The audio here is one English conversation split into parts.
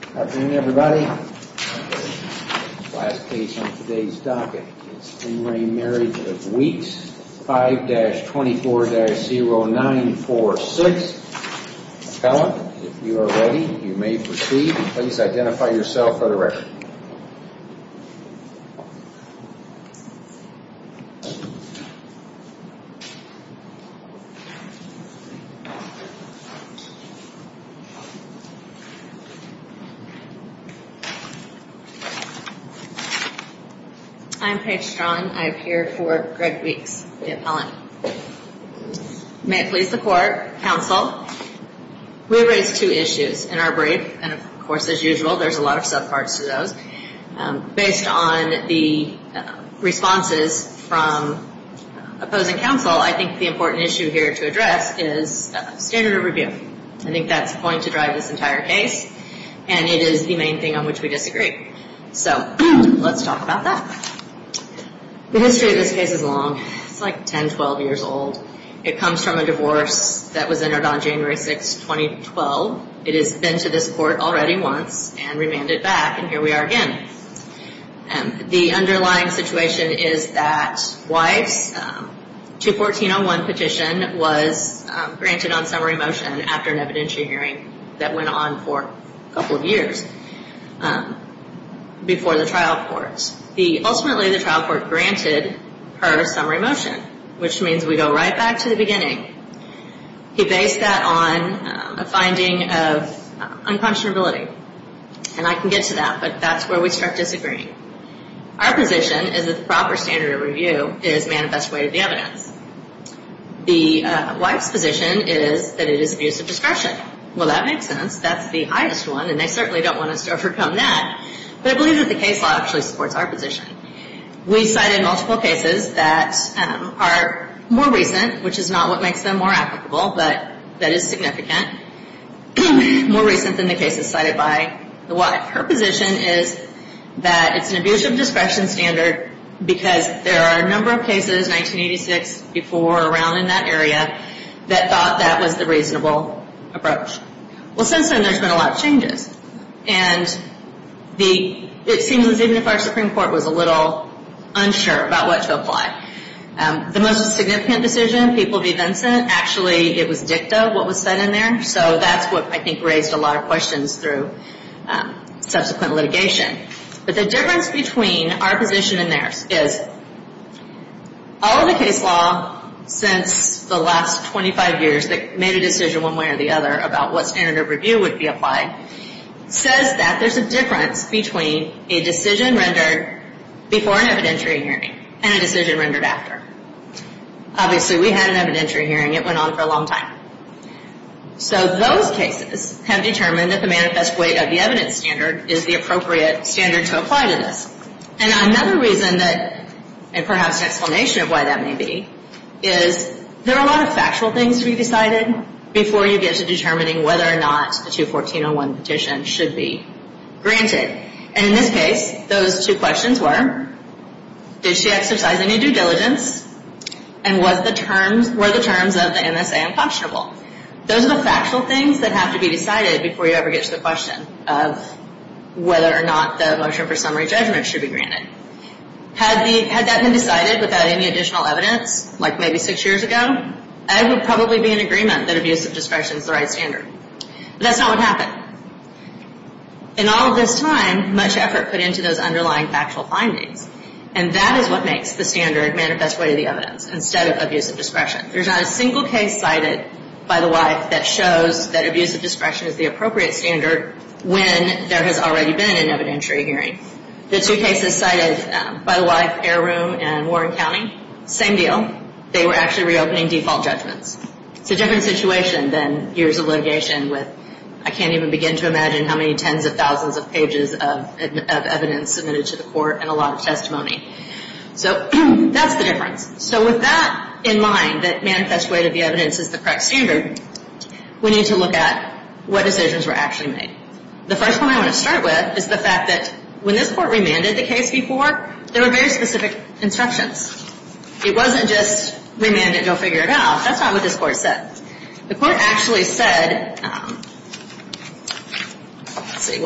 Good afternoon, everybody. The last case on today's docket is In Rain Marriage of Weeks 5-24-0946. Appellant, if you are ready, you may proceed. Please identify yourself for the record. I'm Paige Strong. I appear for Greg Weeks, the appellant. May I please the court, counsel? We raised two issues in our brief, and of course, as usual, there's a lot of subparts to those. Based on the responses from opposing counsel, I think the important issue here to address is standard of review. I think that's going to drive this entire case, and it is the main thing on which we disagree. So let's talk about that. The history of this case is long. It's like 10, 12 years old. It comes from a divorce that was entered on January 6, 2012. It has been to this court already once and remanded back, and here we are again. The underlying situation is that wife's 214-01 petition was granted on summary motion after an evidentiary hearing that went on for a couple of years before the trial court. Ultimately, the trial court granted her summary motion, which means we go right back to the beginning. He based that on a finding of unconscionability, and I can get to that, but that's where we start disagreeing. Our position is that the proper standard of review is manifest way to the evidence. The wife's position is that it is abuse of discretion. Well, that makes sense. That's the highest one, and they certainly don't want us to overcome that, but I believe that the case law actually supports our position. We cited multiple cases that are more recent, which is not what makes them more applicable, but that is significant. More recent than the cases cited by the wife. Her position is that it's an abuse of discretion standard because there are a number of cases, 1986, before around in that area, that thought that was the reasonable approach. Well, since then, there's been a lot of changes, and it seems as if our Supreme Court was a little unsure about what to apply. The most significant decision, people v. Vincent, actually it was dicta what was said in there, so that's what I think raised a lot of questions through subsequent litigation. But the difference between our position and theirs is all the case law since the last 25 years that made a decision one way or the other about what standard of review would be applied says that there's a difference between a decision rendered before an evidentiary hearing and a decision rendered after. Obviously, we had an evidentiary hearing. It went on for a long time. So those cases have determined that the manifest weight of the evidence standard is the appropriate standard to apply to this. And another reason that, and perhaps an explanation of why that may be, is there are a lot of factual things to be decided before you get to determining whether or not the 214-01 petition should be granted. And in this case, those two questions were, did she exercise any due diligence and were the terms of the MSA unquestionable? Those are the factual things that have to be decided before you ever get to the question of whether or not the motion for summary judgment should be granted. Had that been decided without any additional evidence, like maybe six years ago, I would probably be in agreement that abuse of discretion is the right standard. But that's not what happened. In all of this time, much effort put into those underlying factual findings, and that is what makes the standard manifest weight of the evidence instead of abuse of discretion. There's not a single case cited by the WIFE that shows that abuse of discretion is the appropriate standard when there has already been an evidentiary hearing. The two cases cited by the WIFE, Heiroom and Warren County, same deal. They were actually reopening default judgments. It's a different situation than years of litigation with, I can't even begin to imagine how many tens of thousands of pages of evidence submitted to the court and a lot of testimony. So that's the difference. So with that in mind, that manifest weight of the evidence is the correct standard, we need to look at what decisions were actually made. The first point I want to start with is the fact that when this court remanded the case before, there were very specific instructions. It wasn't just remand it and go figure it out. That's not what this court said. The court actually said, let's see,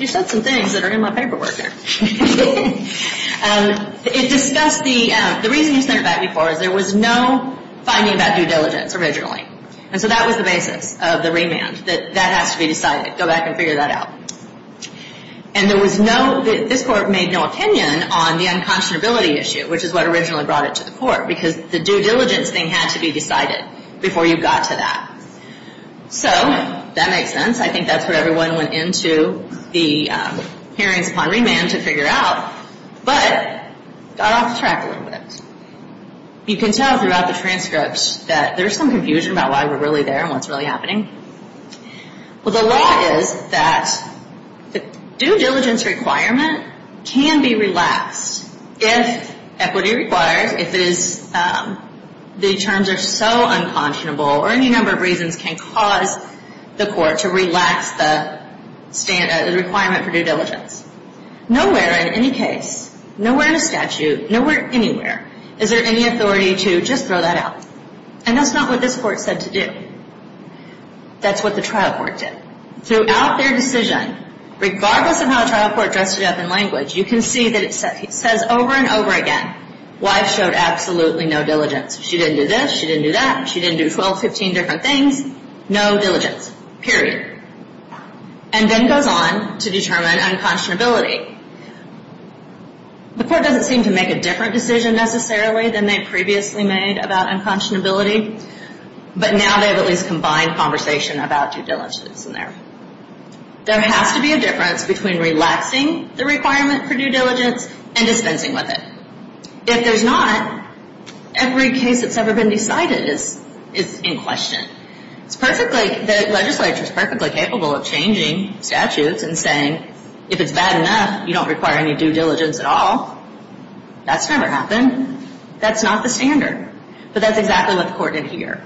you said some things that are in my paperwork here. It discussed the, the reason you sent it back before is there was no finding about due diligence originally. And so that was the basis of the remand, that that has to be decided, go back and figure that out. And there was no, this court made no opinion on the unconscionability issue, which is what originally brought it to the court, because the due diligence thing had to be decided before you got to that. So that makes sense. I think that's what everyone went into the hearings upon remand to figure out, but got off track a little bit. You can tell throughout the transcripts that there's some confusion about why we're really there and what's really happening. Well, the law is that the due diligence requirement can be relaxed if equity requires, or if it is, the terms are so unconscionable, or any number of reasons can cause the court to relax the requirement for due diligence. Nowhere in any case, nowhere in the statute, nowhere anywhere is there any authority to just throw that out. And that's not what this court said to do. That's what the trial court did. Throughout their decision, regardless of how the trial court dressed it up in language, you can see that it says over and over again, wife showed absolutely no diligence. She didn't do this. She didn't do that. She didn't do 12, 15 different things. No diligence, period, and then goes on to determine unconscionability. The court doesn't seem to make a different decision necessarily than they previously made about unconscionability, but now they have at least combined conversation about due diligence in there. There has to be a difference between relaxing the requirement for due diligence and dispensing with it. If there's not, every case that's ever been decided is in question. It's perfectly, the legislature is perfectly capable of changing statutes and saying, if it's bad enough, you don't require any due diligence at all. That's never happened. That's not the standard. But that's exactly what the court did here.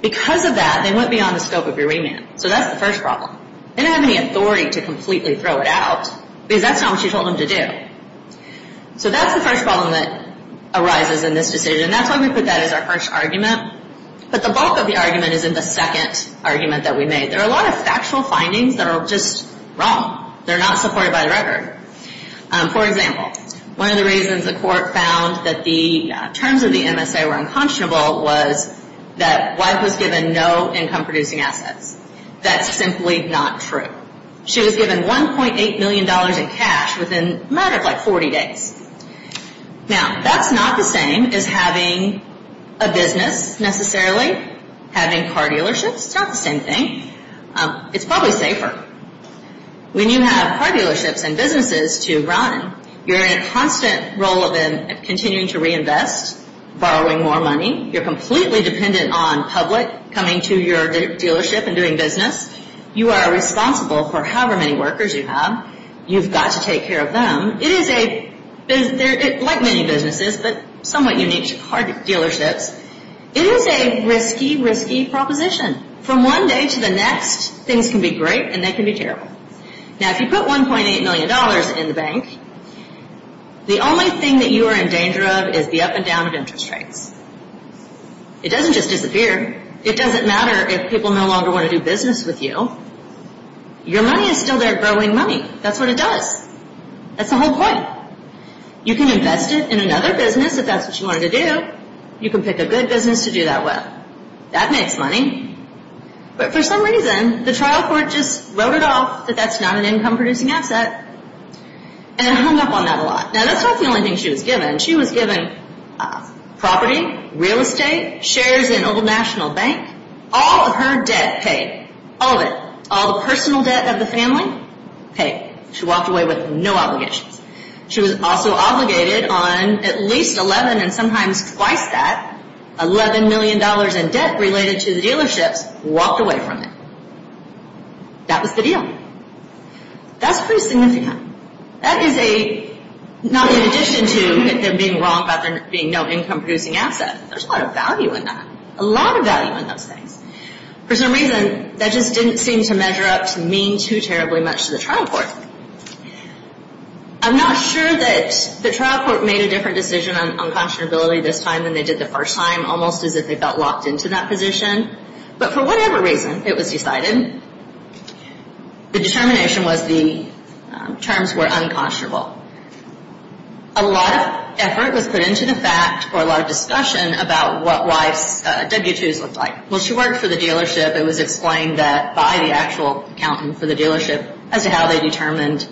Because of that, they went beyond the scope of your remand. So that's the first problem. They didn't have any authority to completely throw it out because that's not what she told them to do. So that's the first problem that arises in this decision. That's why we put that as our first argument. But the bulk of the argument is in the second argument that we made. There are a lot of factual findings that are just wrong. They're not supported by the record. For example, one of the reasons the court found that the terms of the MSA were unconscionable was that wife was given no income-producing assets. That's simply not true. She was given $1.8 million in cash within a matter of, like, 40 days. Now, that's not the same as having a business necessarily, having car dealerships. It's not the same thing. It's probably safer. When you have car dealerships and businesses to run, you're in a constant role of continuing to reinvest, borrowing more money. You're completely dependent on public coming to your dealership and doing business. You are responsible for however many workers you have. You've got to take care of them. It is a, like many businesses, but somewhat unique to car dealerships, it is a risky, risky proposition. From one day to the next, things can be great and they can be terrible. Now, if you put $1.8 million in the bank, the only thing that you are in danger of is the up and down of interest rates. It doesn't just disappear. It doesn't matter if people no longer want to do business with you. Your money is still there growing money. That's what it does. That's the whole point. You can invest it in another business if that's what you wanted to do. You can pick a good business to do that with. That makes money. But for some reason, the trial court just wrote it off that that's not an income-producing asset and hung up on that a lot. Now, that's not the only thing she was given. She was given property, real estate, shares in an old national bank. All of her debt paid. All of it. All the personal debt of the family paid. She walked away with no obligations. She was also obligated on at least 11 and sometimes twice that, $11 million in debt related to the dealerships, walked away from it. That was the deal. That's pretty significant. That is not in addition to them being wrong about there being no income-producing asset. There's a lot of value in that. A lot of value in those things. For some reason, that just didn't seem to measure up to mean too terribly much to the trial court. I'm not sure that the trial court made a different decision on unconscionability this time than they did the first time, almost as if they felt locked into that position. But for whatever reason, it was decided. The determination was the terms were unconscionable. A lot of effort was put into the fact or a lot of discussion about what W-2s looked like. Well, she worked for the dealership. It was explained that by the actual accountant for the dealership, as to how they determined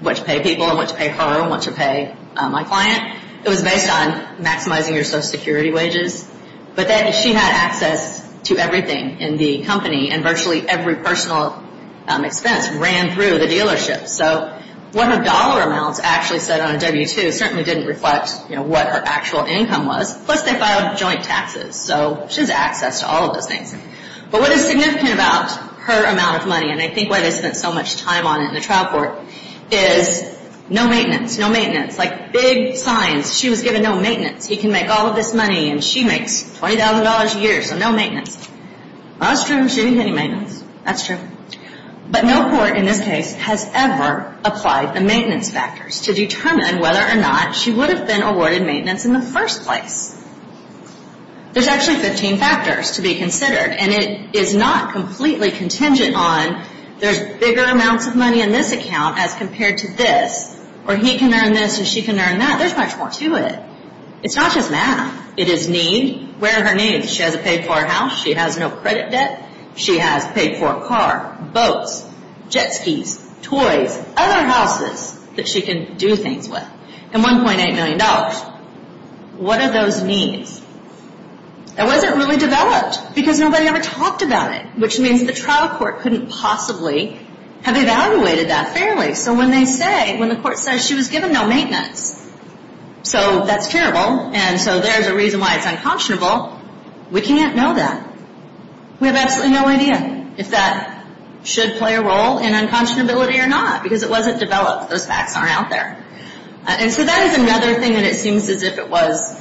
what to pay people and what to pay her and what to pay my client, it was based on maximizing your Social Security wages. But she had access to everything in the company, and virtually every personal expense ran through the dealership. So what her dollar amounts actually said on a W-2 certainly didn't reflect what her actual income was. Plus, they filed joint taxes. So she has access to all of those things. But what is significant about her amount of money, and I think why they spent so much time on it in the trial court, is no maintenance. No maintenance. Like big signs. She was given no maintenance. He can make all of this money, and she makes $20,000 a year, so no maintenance. That's true. She didn't get any maintenance. That's true. But no court in this case has ever applied the maintenance factors to determine whether or not she would have been awarded maintenance in the first place. There's actually 15 factors to be considered, and it is not completely contingent on there's bigger amounts of money in this account as compared to this, or he can earn this and she can earn that. There's much more to it. It's not just math. It is need. Where are her needs? She has to pay for her house. She has no credit debt. She has to pay for a car, boats, jet skis, toys, other houses that she can do things with, and $1.8 million. What are those needs? It wasn't really developed, because nobody ever talked about it, which means the trial court couldn't possibly have evaluated that fairly. So when they say, when the court says she was given no maintenance, so that's terrible, and so there's a reason why it's unconscionable, we can't know that. We have absolutely no idea if that should play a role in unconscionability or not, because it wasn't developed. Those facts aren't out there. And so that is another thing that it seems as if it was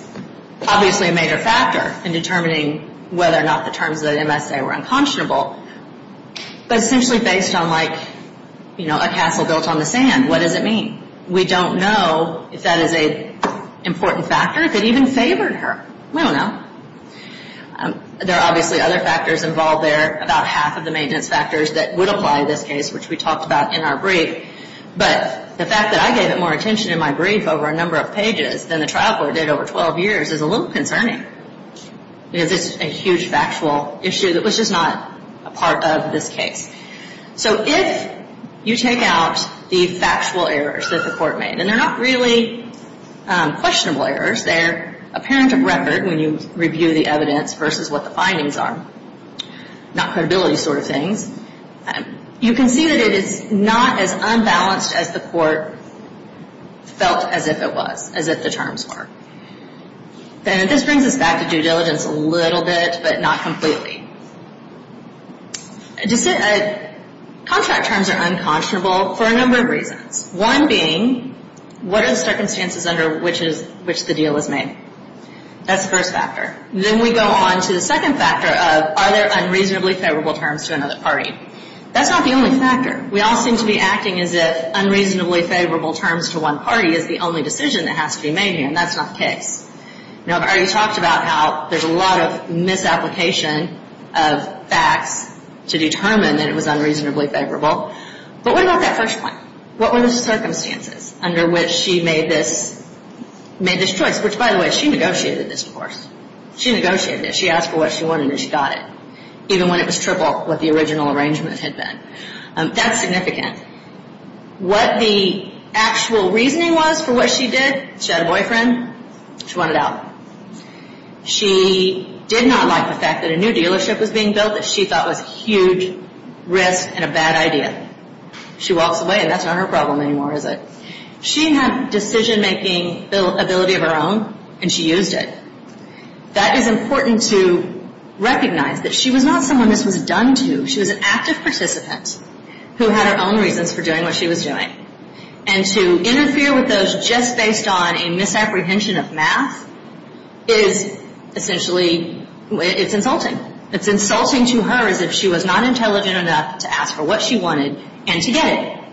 obviously a major factor in determining whether or not the terms of the MSA were unconscionable. But essentially based on, like, you know, a castle built on the sand, what does it mean? We don't know if that is an important factor, if it even favored her. We don't know. There are obviously other factors involved there, about half of the maintenance factors that would apply in this case, which we talked about in our brief. But the fact that I gave it more attention in my brief over a number of pages than the trial court did over 12 years is a little concerning, because it's a huge factual issue that was just not a part of this case. So if you take out the factual errors that the court made, and they're not really questionable errors, they're apparent of record when you review the evidence versus what the findings are, not credibility sort of things, you can see that it is not as unbalanced as the court felt as if it was, as if the terms were. And this brings us back to due diligence a little bit, but not completely. Contract terms are unconscionable for a number of reasons, one being what are the circumstances under which the deal was made? That's the first factor. Then we go on to the second factor of are there unreasonably favorable terms to another party? That's not the only factor. We all seem to be acting as if unreasonably favorable terms to one party is the only decision that has to be made here, and that's not the case. Now, I've already talked about how there's a lot of misapplication of facts to determine that it was unreasonably favorable. But what about that first point? What were the circumstances under which she made this choice? Which, by the way, she negotiated this divorce. She negotiated it. She asked for what she wanted, and she got it, even when it was triple what the original arrangement had been. That's significant. What the actual reasoning was for what she did, she had a boyfriend. She wanted out. She did not like the fact that a new dealership was being built that she thought was a huge risk and a bad idea. She walks away, and that's not her problem anymore, is it? She had decision-making ability of her own, and she used it. That is important to recognize that she was not someone this was done to. She was an active participant who had her own reasons for doing what she was doing. And to interfere with those just based on a misapprehension of math is essentially insulting. It's insulting to her as if she was not intelligent enough to ask for what she wanted and to get it.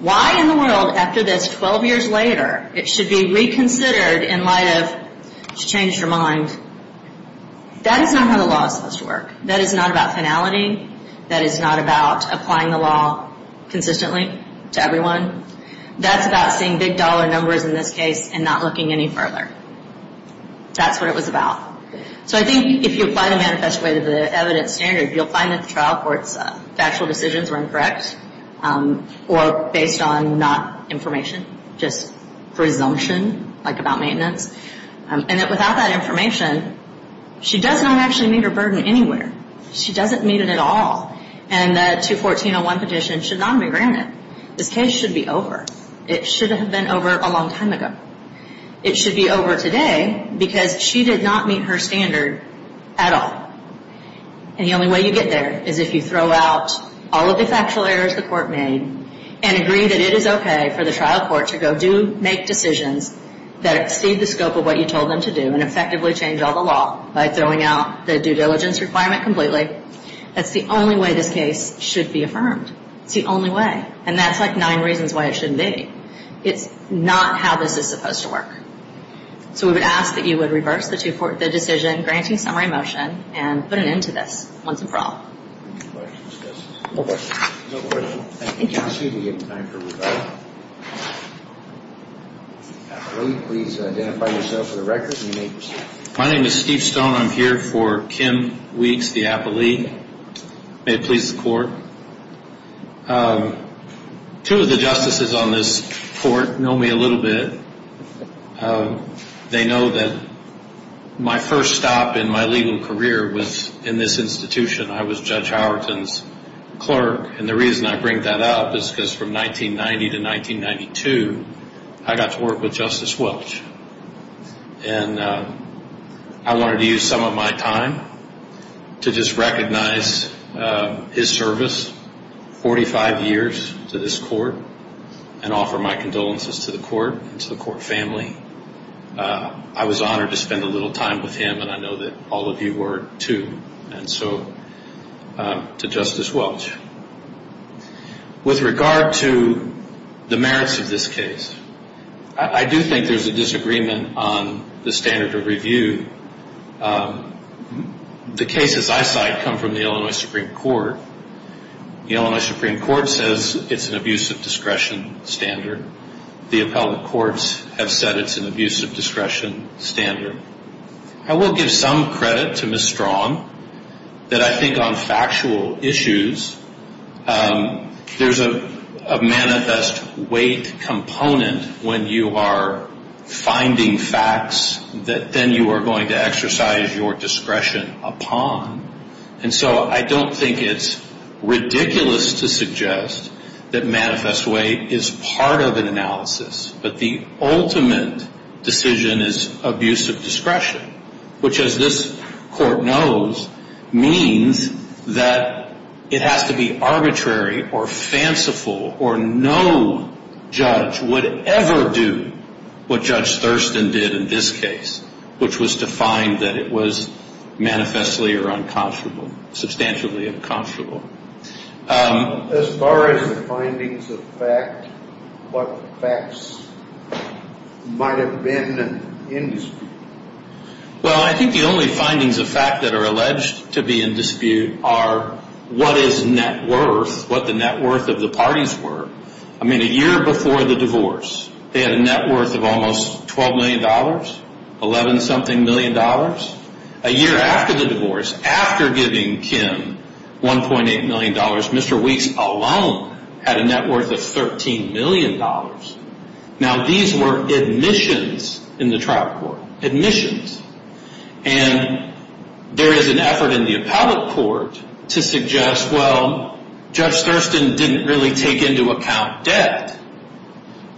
Why in the world after this, 12 years later, it should be reconsidered in light of she changed her mind. That is not how the law is supposed to work. That is not about finality. That is not about applying the law consistently to everyone. That's about seeing big dollar numbers in this case and not looking any further. That's what it was about. So I think if you apply the manifesto way to the evidence standard, you'll find that the trial court's factual decisions were incorrect or based on not information, just presumption, like about maintenance. And that without that information, she does not actually meet her burden anywhere. She doesn't meet it at all. And the 214-01 petition should not be granted. This case should be over. It should have been over a long time ago. It should be over today because she did not meet her standard at all. And the only way you get there is if you throw out all of the factual errors the court made and agree that it is okay for the trial court to go make decisions that exceed the scope of what you told them to do and effectively change all the law by throwing out the due diligence requirement completely. That's the only way this case should be affirmed. It's the only way. And that's like nine reasons why it shouldn't be. It's not how this is supposed to work. So we would ask that you would reverse the decision granting summary motion and put an end to this once and for all. Any questions, Justice? No questions. No questions. Thank you. We're going to give time for Rebecca. Will you please identify yourself for the record and you may proceed. My name is Steve Stone. I'm here for Kim Weeks, the appellee. May it please the court. Two of the justices on this court know me a little bit. They know that my first stop in my legal career was in this institution. I was Judge Howerton's clerk, and the reason I bring that up is because from 1990 to 1992, I got to work with Justice Welch. And I wanted to use some of my time to just recognize his service, 45 years to this court, and offer my condolences to the court and to the court family. I was honored to spend a little time with him, and I know that all of you were too. And so to Justice Welch. With regard to the merits of this case, I do think there's a disagreement on the standard of review. The cases I cite come from the Illinois Supreme Court. The Illinois Supreme Court says it's an abuse of discretion standard. The appellate courts have said it's an abuse of discretion standard. I will give some credit to Ms. Strong that I think on factual issues, there's a manifest weight component when you are finding facts that then you are going to exercise your discretion upon. And so I don't think it's ridiculous to suggest that manifest weight is part of an analysis, but the ultimate decision is abuse of discretion, which as this court knows means that it has to be arbitrary or fanciful or no judge would ever do what Judge Thurston did in this case, which was to find that it was manifestly or unconscionable, substantially unconscionable. As far as the findings of fact, what facts might have been in dispute? Well, I think the only findings of fact that are alleged to be in dispute are what is net worth, what the net worth of the parties were. I mean, a year before the divorce, they had a net worth of almost $12 million, $11 something million. A year after the divorce, after giving Kim $1.8 million, Mr. Weeks alone had a net worth of $13 million. Now, these were admissions in the trial court, admissions. And there is an effort in the appellate court to suggest, well, Judge Thurston didn't really take into account debt.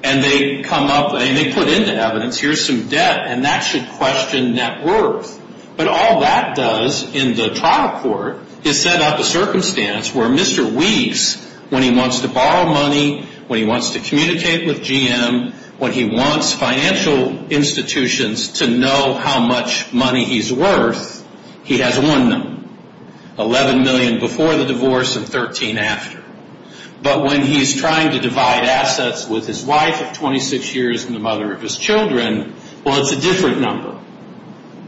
And they come up and they put in the evidence, here's some debt, and that should question net worth. But all that does in the trial court is set up a circumstance where Mr. Weeks, when he wants to borrow money, when he wants to communicate with GM, when he wants financial institutions to know how much money he's worth, he has one number, $11 million before the divorce and $13 million after. But when he's trying to divide assets with his wife of 26 years and the mother of his children, well, it's a different number.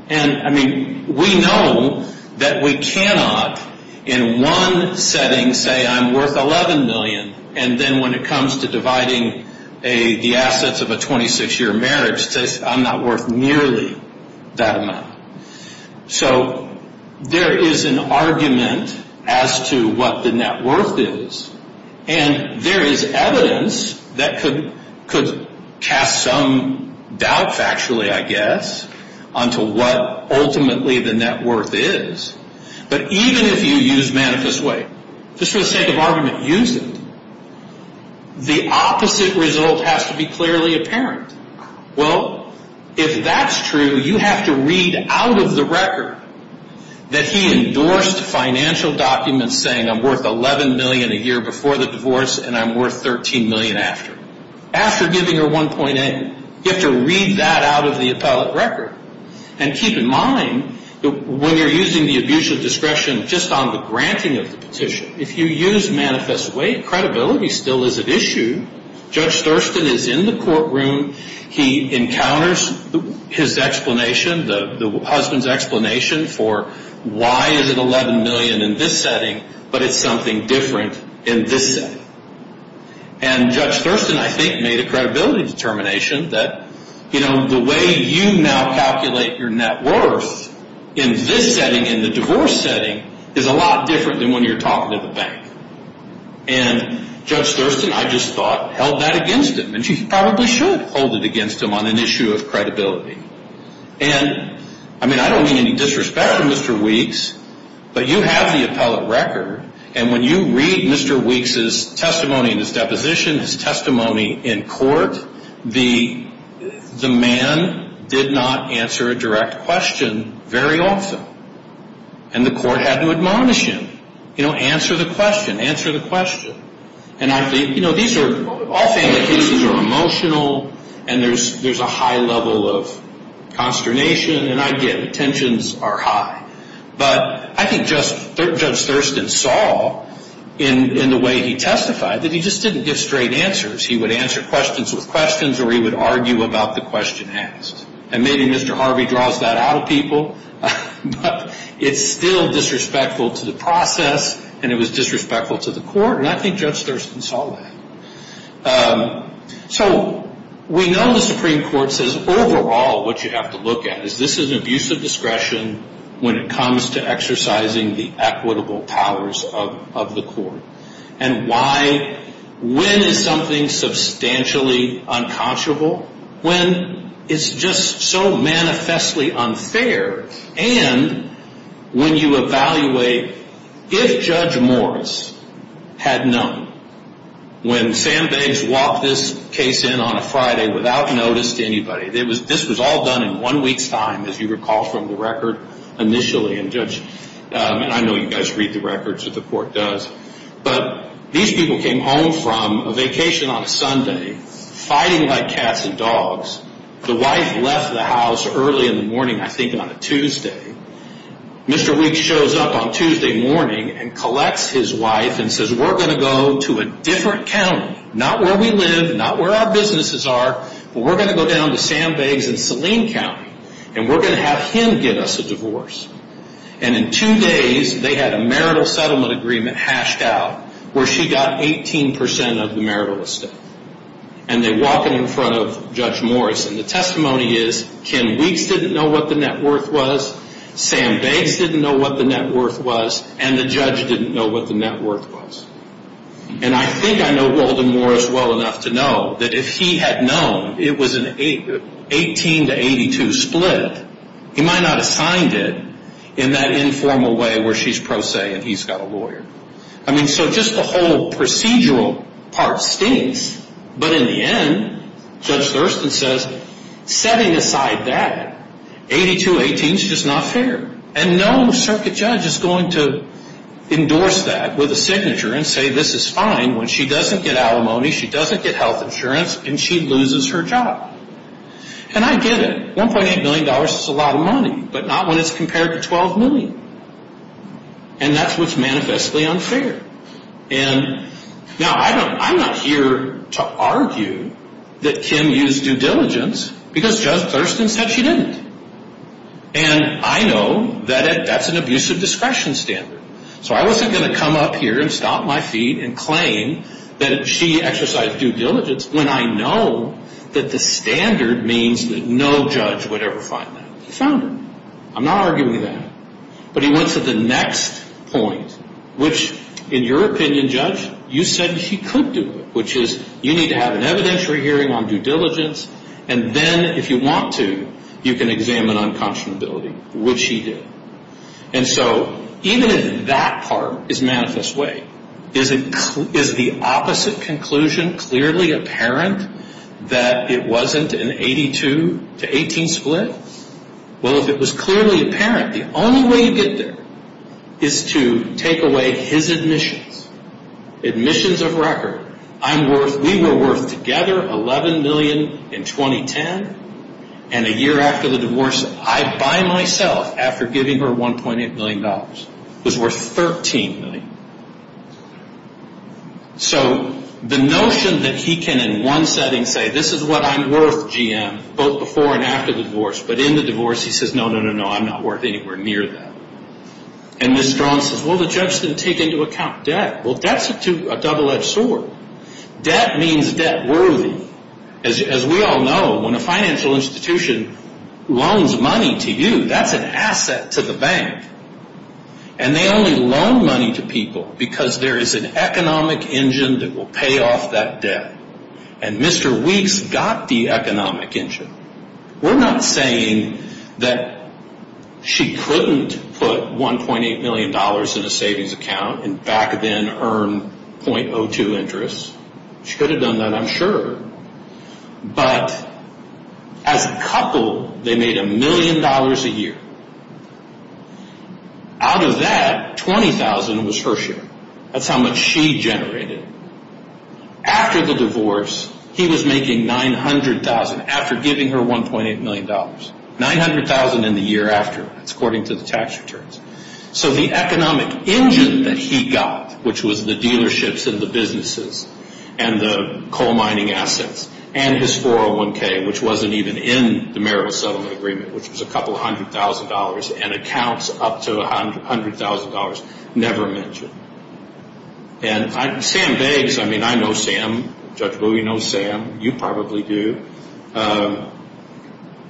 And, I mean, we know that we cannot, in one setting, say I'm worth $11 million, and then when it comes to dividing the assets of a 26-year marriage, it says I'm not worth nearly that amount. So there is an argument as to what the net worth is. And there is evidence that could cast some doubt, factually, I guess, onto what ultimately the net worth is. But even if you use Manifest Way, just for the sake of argument, use it, the opposite result has to be clearly apparent. Well, if that's true, you have to read out of the record that he endorsed financial documents saying I'm worth $11 million a year before the divorce and I'm worth $13 million after. After giving her 1.8, you have to read that out of the appellate record. And keep in mind, when you're using the abuse of discretion just on the granting of the petition, if you use Manifest Way, credibility still is at issue. Judge Thurston is in the courtroom. He encounters his explanation, the husband's explanation for why is it $11 million in this setting, but it's something different in this setting. And Judge Thurston, I think, made a credibility determination that, you know, the way you now calculate your net worth in this setting, in the divorce setting, is a lot different than when you're talking to the bank. And Judge Thurston, I just thought, held that against him. And she probably should hold it against him on an issue of credibility. And, I mean, I don't mean any disrespect to Mr. Weeks, but you have the appellate record. And when you read Mr. Weeks' testimony in his deposition, his testimony in court, the man did not answer a direct question very often. And the court had to admonish him. You know, answer the question, answer the question. And I think, you know, these are all family cases are emotional, and there's a high level of consternation. And I get it. Tensions are high. But I think Judge Thurston saw, in the way he testified, that he just didn't give straight answers. He would answer questions with questions, or he would argue about the question asked. And maybe Mr. Harvey draws that out of people. But it's still disrespectful to the process, and it was disrespectful to the court. And I think Judge Thurston saw that. So we know the Supreme Court says, overall, what you have to look at is this is an abuse of discretion when it comes to exercising the equitable powers of the court. And why? When is something substantially unconscionable? When it's just so manifestly unfair. And when you evaluate if Judge Morris had known. When Sandbanks walked this case in on a Friday without notice to anybody. This was all done in one week's time, as you recall from the record, initially. And I know you guys read the records that the court does. But these people came home from a vacation on a Sunday, fighting like cats and dogs. The wife left the house early in the morning, I think on a Tuesday. Mr. Weeks shows up on Tuesday morning and collects his wife and says, we're going to go to a different county, not where we live, not where our businesses are. But we're going to go down to Sandbanks and Saline County. And we're going to have him give us a divorce. And in two days, they had a marital settlement agreement hashed out where she got 18% of the marital estate. And they walk it in front of Judge Morris. And the testimony is, Ken Weeks didn't know what the net worth was. Sandbanks didn't know what the net worth was. And the judge didn't know what the net worth was. And I think I know Walden Morris well enough to know that if he had known it was an 18 to 82 split, he might not have signed it in that informal way where she's pro se and he's got a lawyer. I mean, so just the whole procedural part stinks. But in the end, Judge Thurston says, setting aside that, 82-18 is just not fair. And no circuit judge is going to endorse that with a signature and say this is fine when she doesn't get alimony, she doesn't get health insurance, and she loses her job. And I get it. $1.8 million is a lot of money, but not when it's compared to $12 million. And that's what's manifestly unfair. And now I'm not here to argue that Kim used due diligence because Judge Thurston said she didn't. And I know that that's an abusive discretion standard. So I wasn't going to come up here and stomp my feet and claim that she exercised due diligence when I know that the standard means that no judge would ever find that. He found it. I'm not arguing that. But he went to the next point, which, in your opinion, Judge, you said she could do it, which is you need to have an evidentiary hearing on due diligence, and then if you want to, you can examine unconscionability, which she did. And so even if that part is manifest way, is the opposite conclusion clearly apparent that it wasn't an 82-18 split? Well, if it was clearly apparent, the only way you get there is to take away his admissions, admissions of record. We were worth together $11 million in 2010. And a year after the divorce, I, by myself, after giving her $1.8 million, was worth $13 million. So the notion that he can, in one setting, say this is what I'm worth, GM, both before and after the divorce, but in the divorce he says, no, no, no, no, I'm not worth anywhere near that. And Ms. Strawn says, well, the judge didn't take into account debt. Well, debt's a double-edged sword. Debt means debt worthy. As we all know, when a financial institution loans money to you, that's an asset to the bank. And they only loan money to people because there is an economic engine that will pay off that debt. And Mr. Weeks got the economic engine. We're not saying that she couldn't put $1.8 million in a savings account and back then earn .02 interest. She could have done that, I'm sure. But as a couple, they made $1 million a year. Out of that, $20,000 was her share. That's how much she generated. After the divorce, he was making $900,000, after giving her $1.8 million. $900,000 in the year after. That's according to the tax returns. So the economic engine that he got, which was the dealerships and the businesses and the coal mining assets, and his 401K, which wasn't even in the marital settlement agreement, which was a couple hundred thousand dollars and accounts up to $100,000, never mentioned. And Sam Beggs, I mean, I know Sam. Judge Bowie knows Sam. You probably do.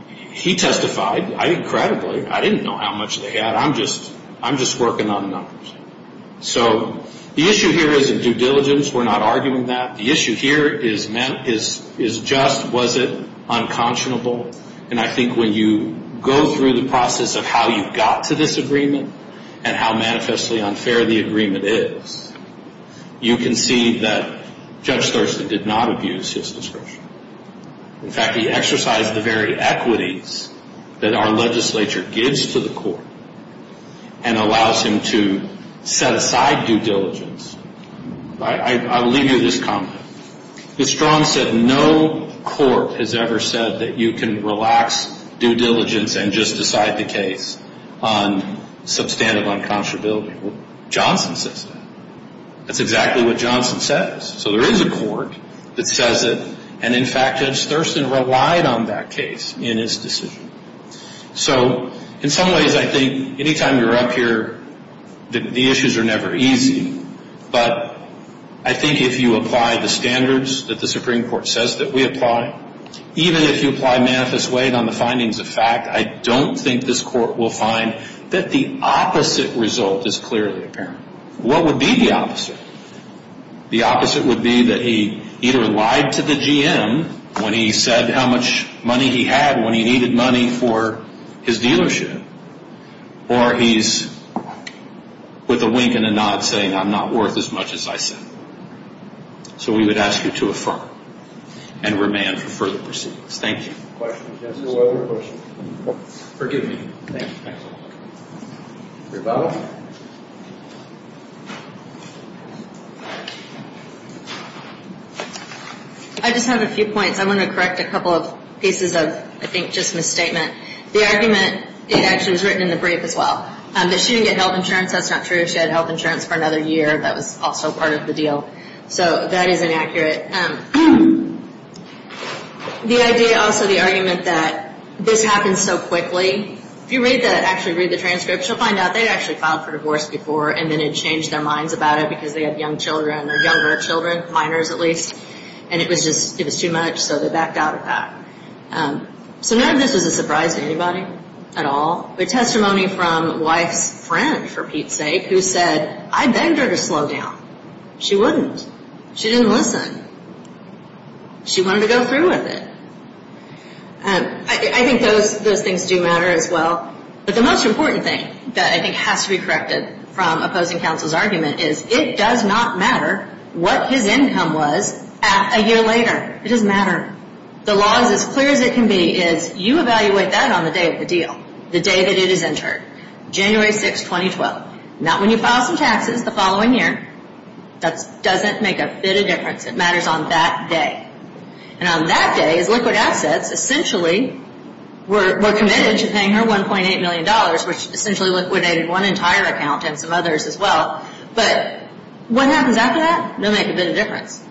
He testified. I didn't credibly. I didn't know how much they had. I'm just working on numbers. So the issue here isn't due diligence. We're not arguing that. The issue here is just was it unconscionable. And I think when you go through the process of how you got to this agreement and how manifestly unfair the agreement is, you can see that Judge Thurston did not abuse his discretion. In fact, he exercised the very equities that our legislature gives to the court and allows him to set aside due diligence. I'll leave you with this comment. The strong said no court has ever said that you can relax due diligence and just decide the case on substantive unconscionability. Johnson says that. That's exactly what Johnson says. So there is a court that says it, and in fact, Judge Thurston relied on that case in his decision. So in some ways, I think any time you're up here, the issues are never easy. But I think if you apply the standards that the Supreme Court says that we apply, even if you apply Manifest Wade on the findings of fact, I don't think this court will find that the opposite result is clearly apparent. What would be the opposite? The opposite would be that he either lied to the GM when he said how much money he had when he needed money for his dealership, or he's with a wink and a nod saying I'm not worth as much as I said. So we would ask you to affirm and remand for further proceedings. Thank you. Forgive me. Rebuttal? I just have a few points. I want to correct a couple of pieces of, I think, just misstatement. The argument, it actually was written in the brief as well, that she didn't get health insurance. That's not true. She had health insurance for another year. That was also part of the deal. So that is inaccurate. The idea, also, the argument that this happened so quickly, if you read that, actually read the transcript, you'll find out they'd actually filed for divorce before and then had changed their minds about it because they had young children, or younger children, minors at least, and it was too much, so they backed out of that. So none of this was a surprise to anybody at all. The testimony from wife's friend, for Pete's sake, who said, I begged her to slow down. She wouldn't. She didn't listen. She wanted to go through with it. I think those things do matter as well. But the most important thing that I think has to be corrected from opposing counsel's argument is it does not matter what his income was a year later. It doesn't matter. The law is as clear as it can be is you evaluate that on the day of the deal, the day that it is entered, January 6, 2012. Not when you file some taxes the following year. That doesn't make a bit of difference. It matters on that day. And on that day, as liquid assets, essentially, were committed to paying her $1.8 million, which essentially liquidated one entire account and some others as well. But what happens after that? It'll make a bit of difference.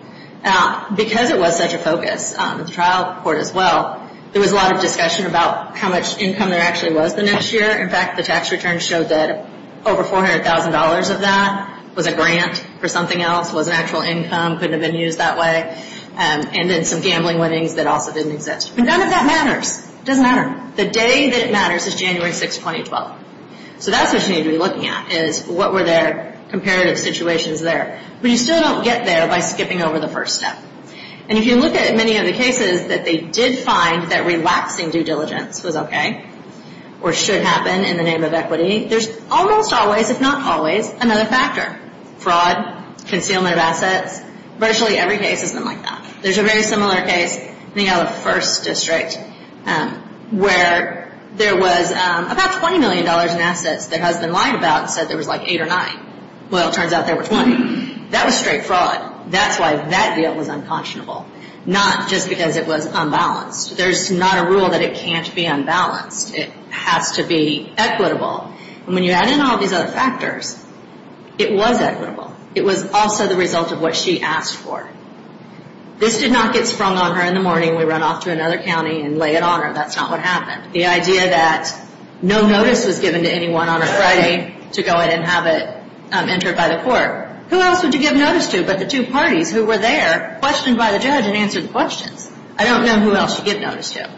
Now, because it was such a focus, the trial court as well, there was a lot of discussion about how much income there actually was the next year. In fact, the tax returns showed that over $400,000 of that was a grant for something else, wasn't actual income, couldn't have been used that way, and then some gambling winnings that also didn't exist. But none of that matters. It doesn't matter. The day that it matters is January 6, 2012. So that's what you need to be looking at is what were their comparative situations there. But you still don't get there by skipping over the first step. And if you look at many of the cases that they did find that relaxing due diligence was okay or should happen in the name of equity, there's almost always, if not always, another factor. Fraud, concealment of assets, virtually every case has been like that. There's a very similar case, I think out of the first district, where there was about $20 million in assets their husband lied about and said there was like eight or nine. Well, it turns out there were 20. That was straight fraud. That's why that deal was unconscionable, not just because it was unbalanced. There's not a rule that it can't be unbalanced. It has to be equitable. And when you add in all these other factors, it was equitable. It was also the result of what she asked for. This did not get sprung on her in the morning. We run off to another county and lay it on her. That's not what happened. The idea that no notice was given to anyone on a Friday to go in and have it entered by the court. Who else would you give notice to but the two parties who were there, questioned by the judge and answered the questions? I don't know who else you give notice to.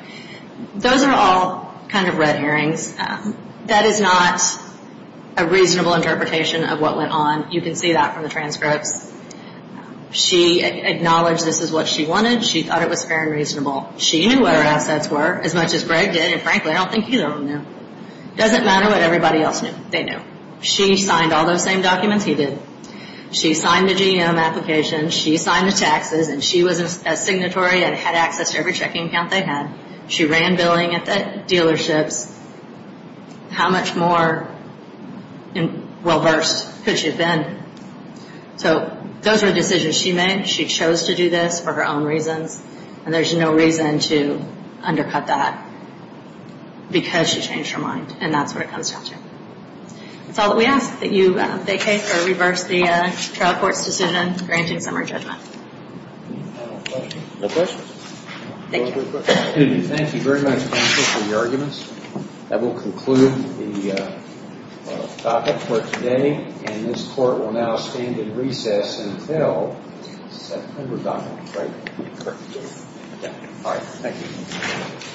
Those are all kind of red herrings. That is not a reasonable interpretation of what went on. You can see that from the transcripts. She acknowledged this is what she wanted. She thought it was fair and reasonable. She knew what her assets were as much as Greg did. And, frankly, I don't think either of them knew. It doesn't matter what everybody else knew. They knew. She signed all those same documents he did. She signed the GM application. She signed the taxes. And she was a signatory and had access to every checking account they had. She ran billing at the dealerships. How much more well-versed could she have been? So those were decisions she made. She chose to do this for her own reasons. And there's no reason to undercut that because she changed her mind. And that's what it comes down to. That's all that we ask that you vacate or reverse the trial court's decision granting summer judgment. Any final questions? No questions. Thank you. Thank you very much, counsel, for your arguments. That will conclude the docket for today. And this court will now stand in recess until September document. All right. Thank you.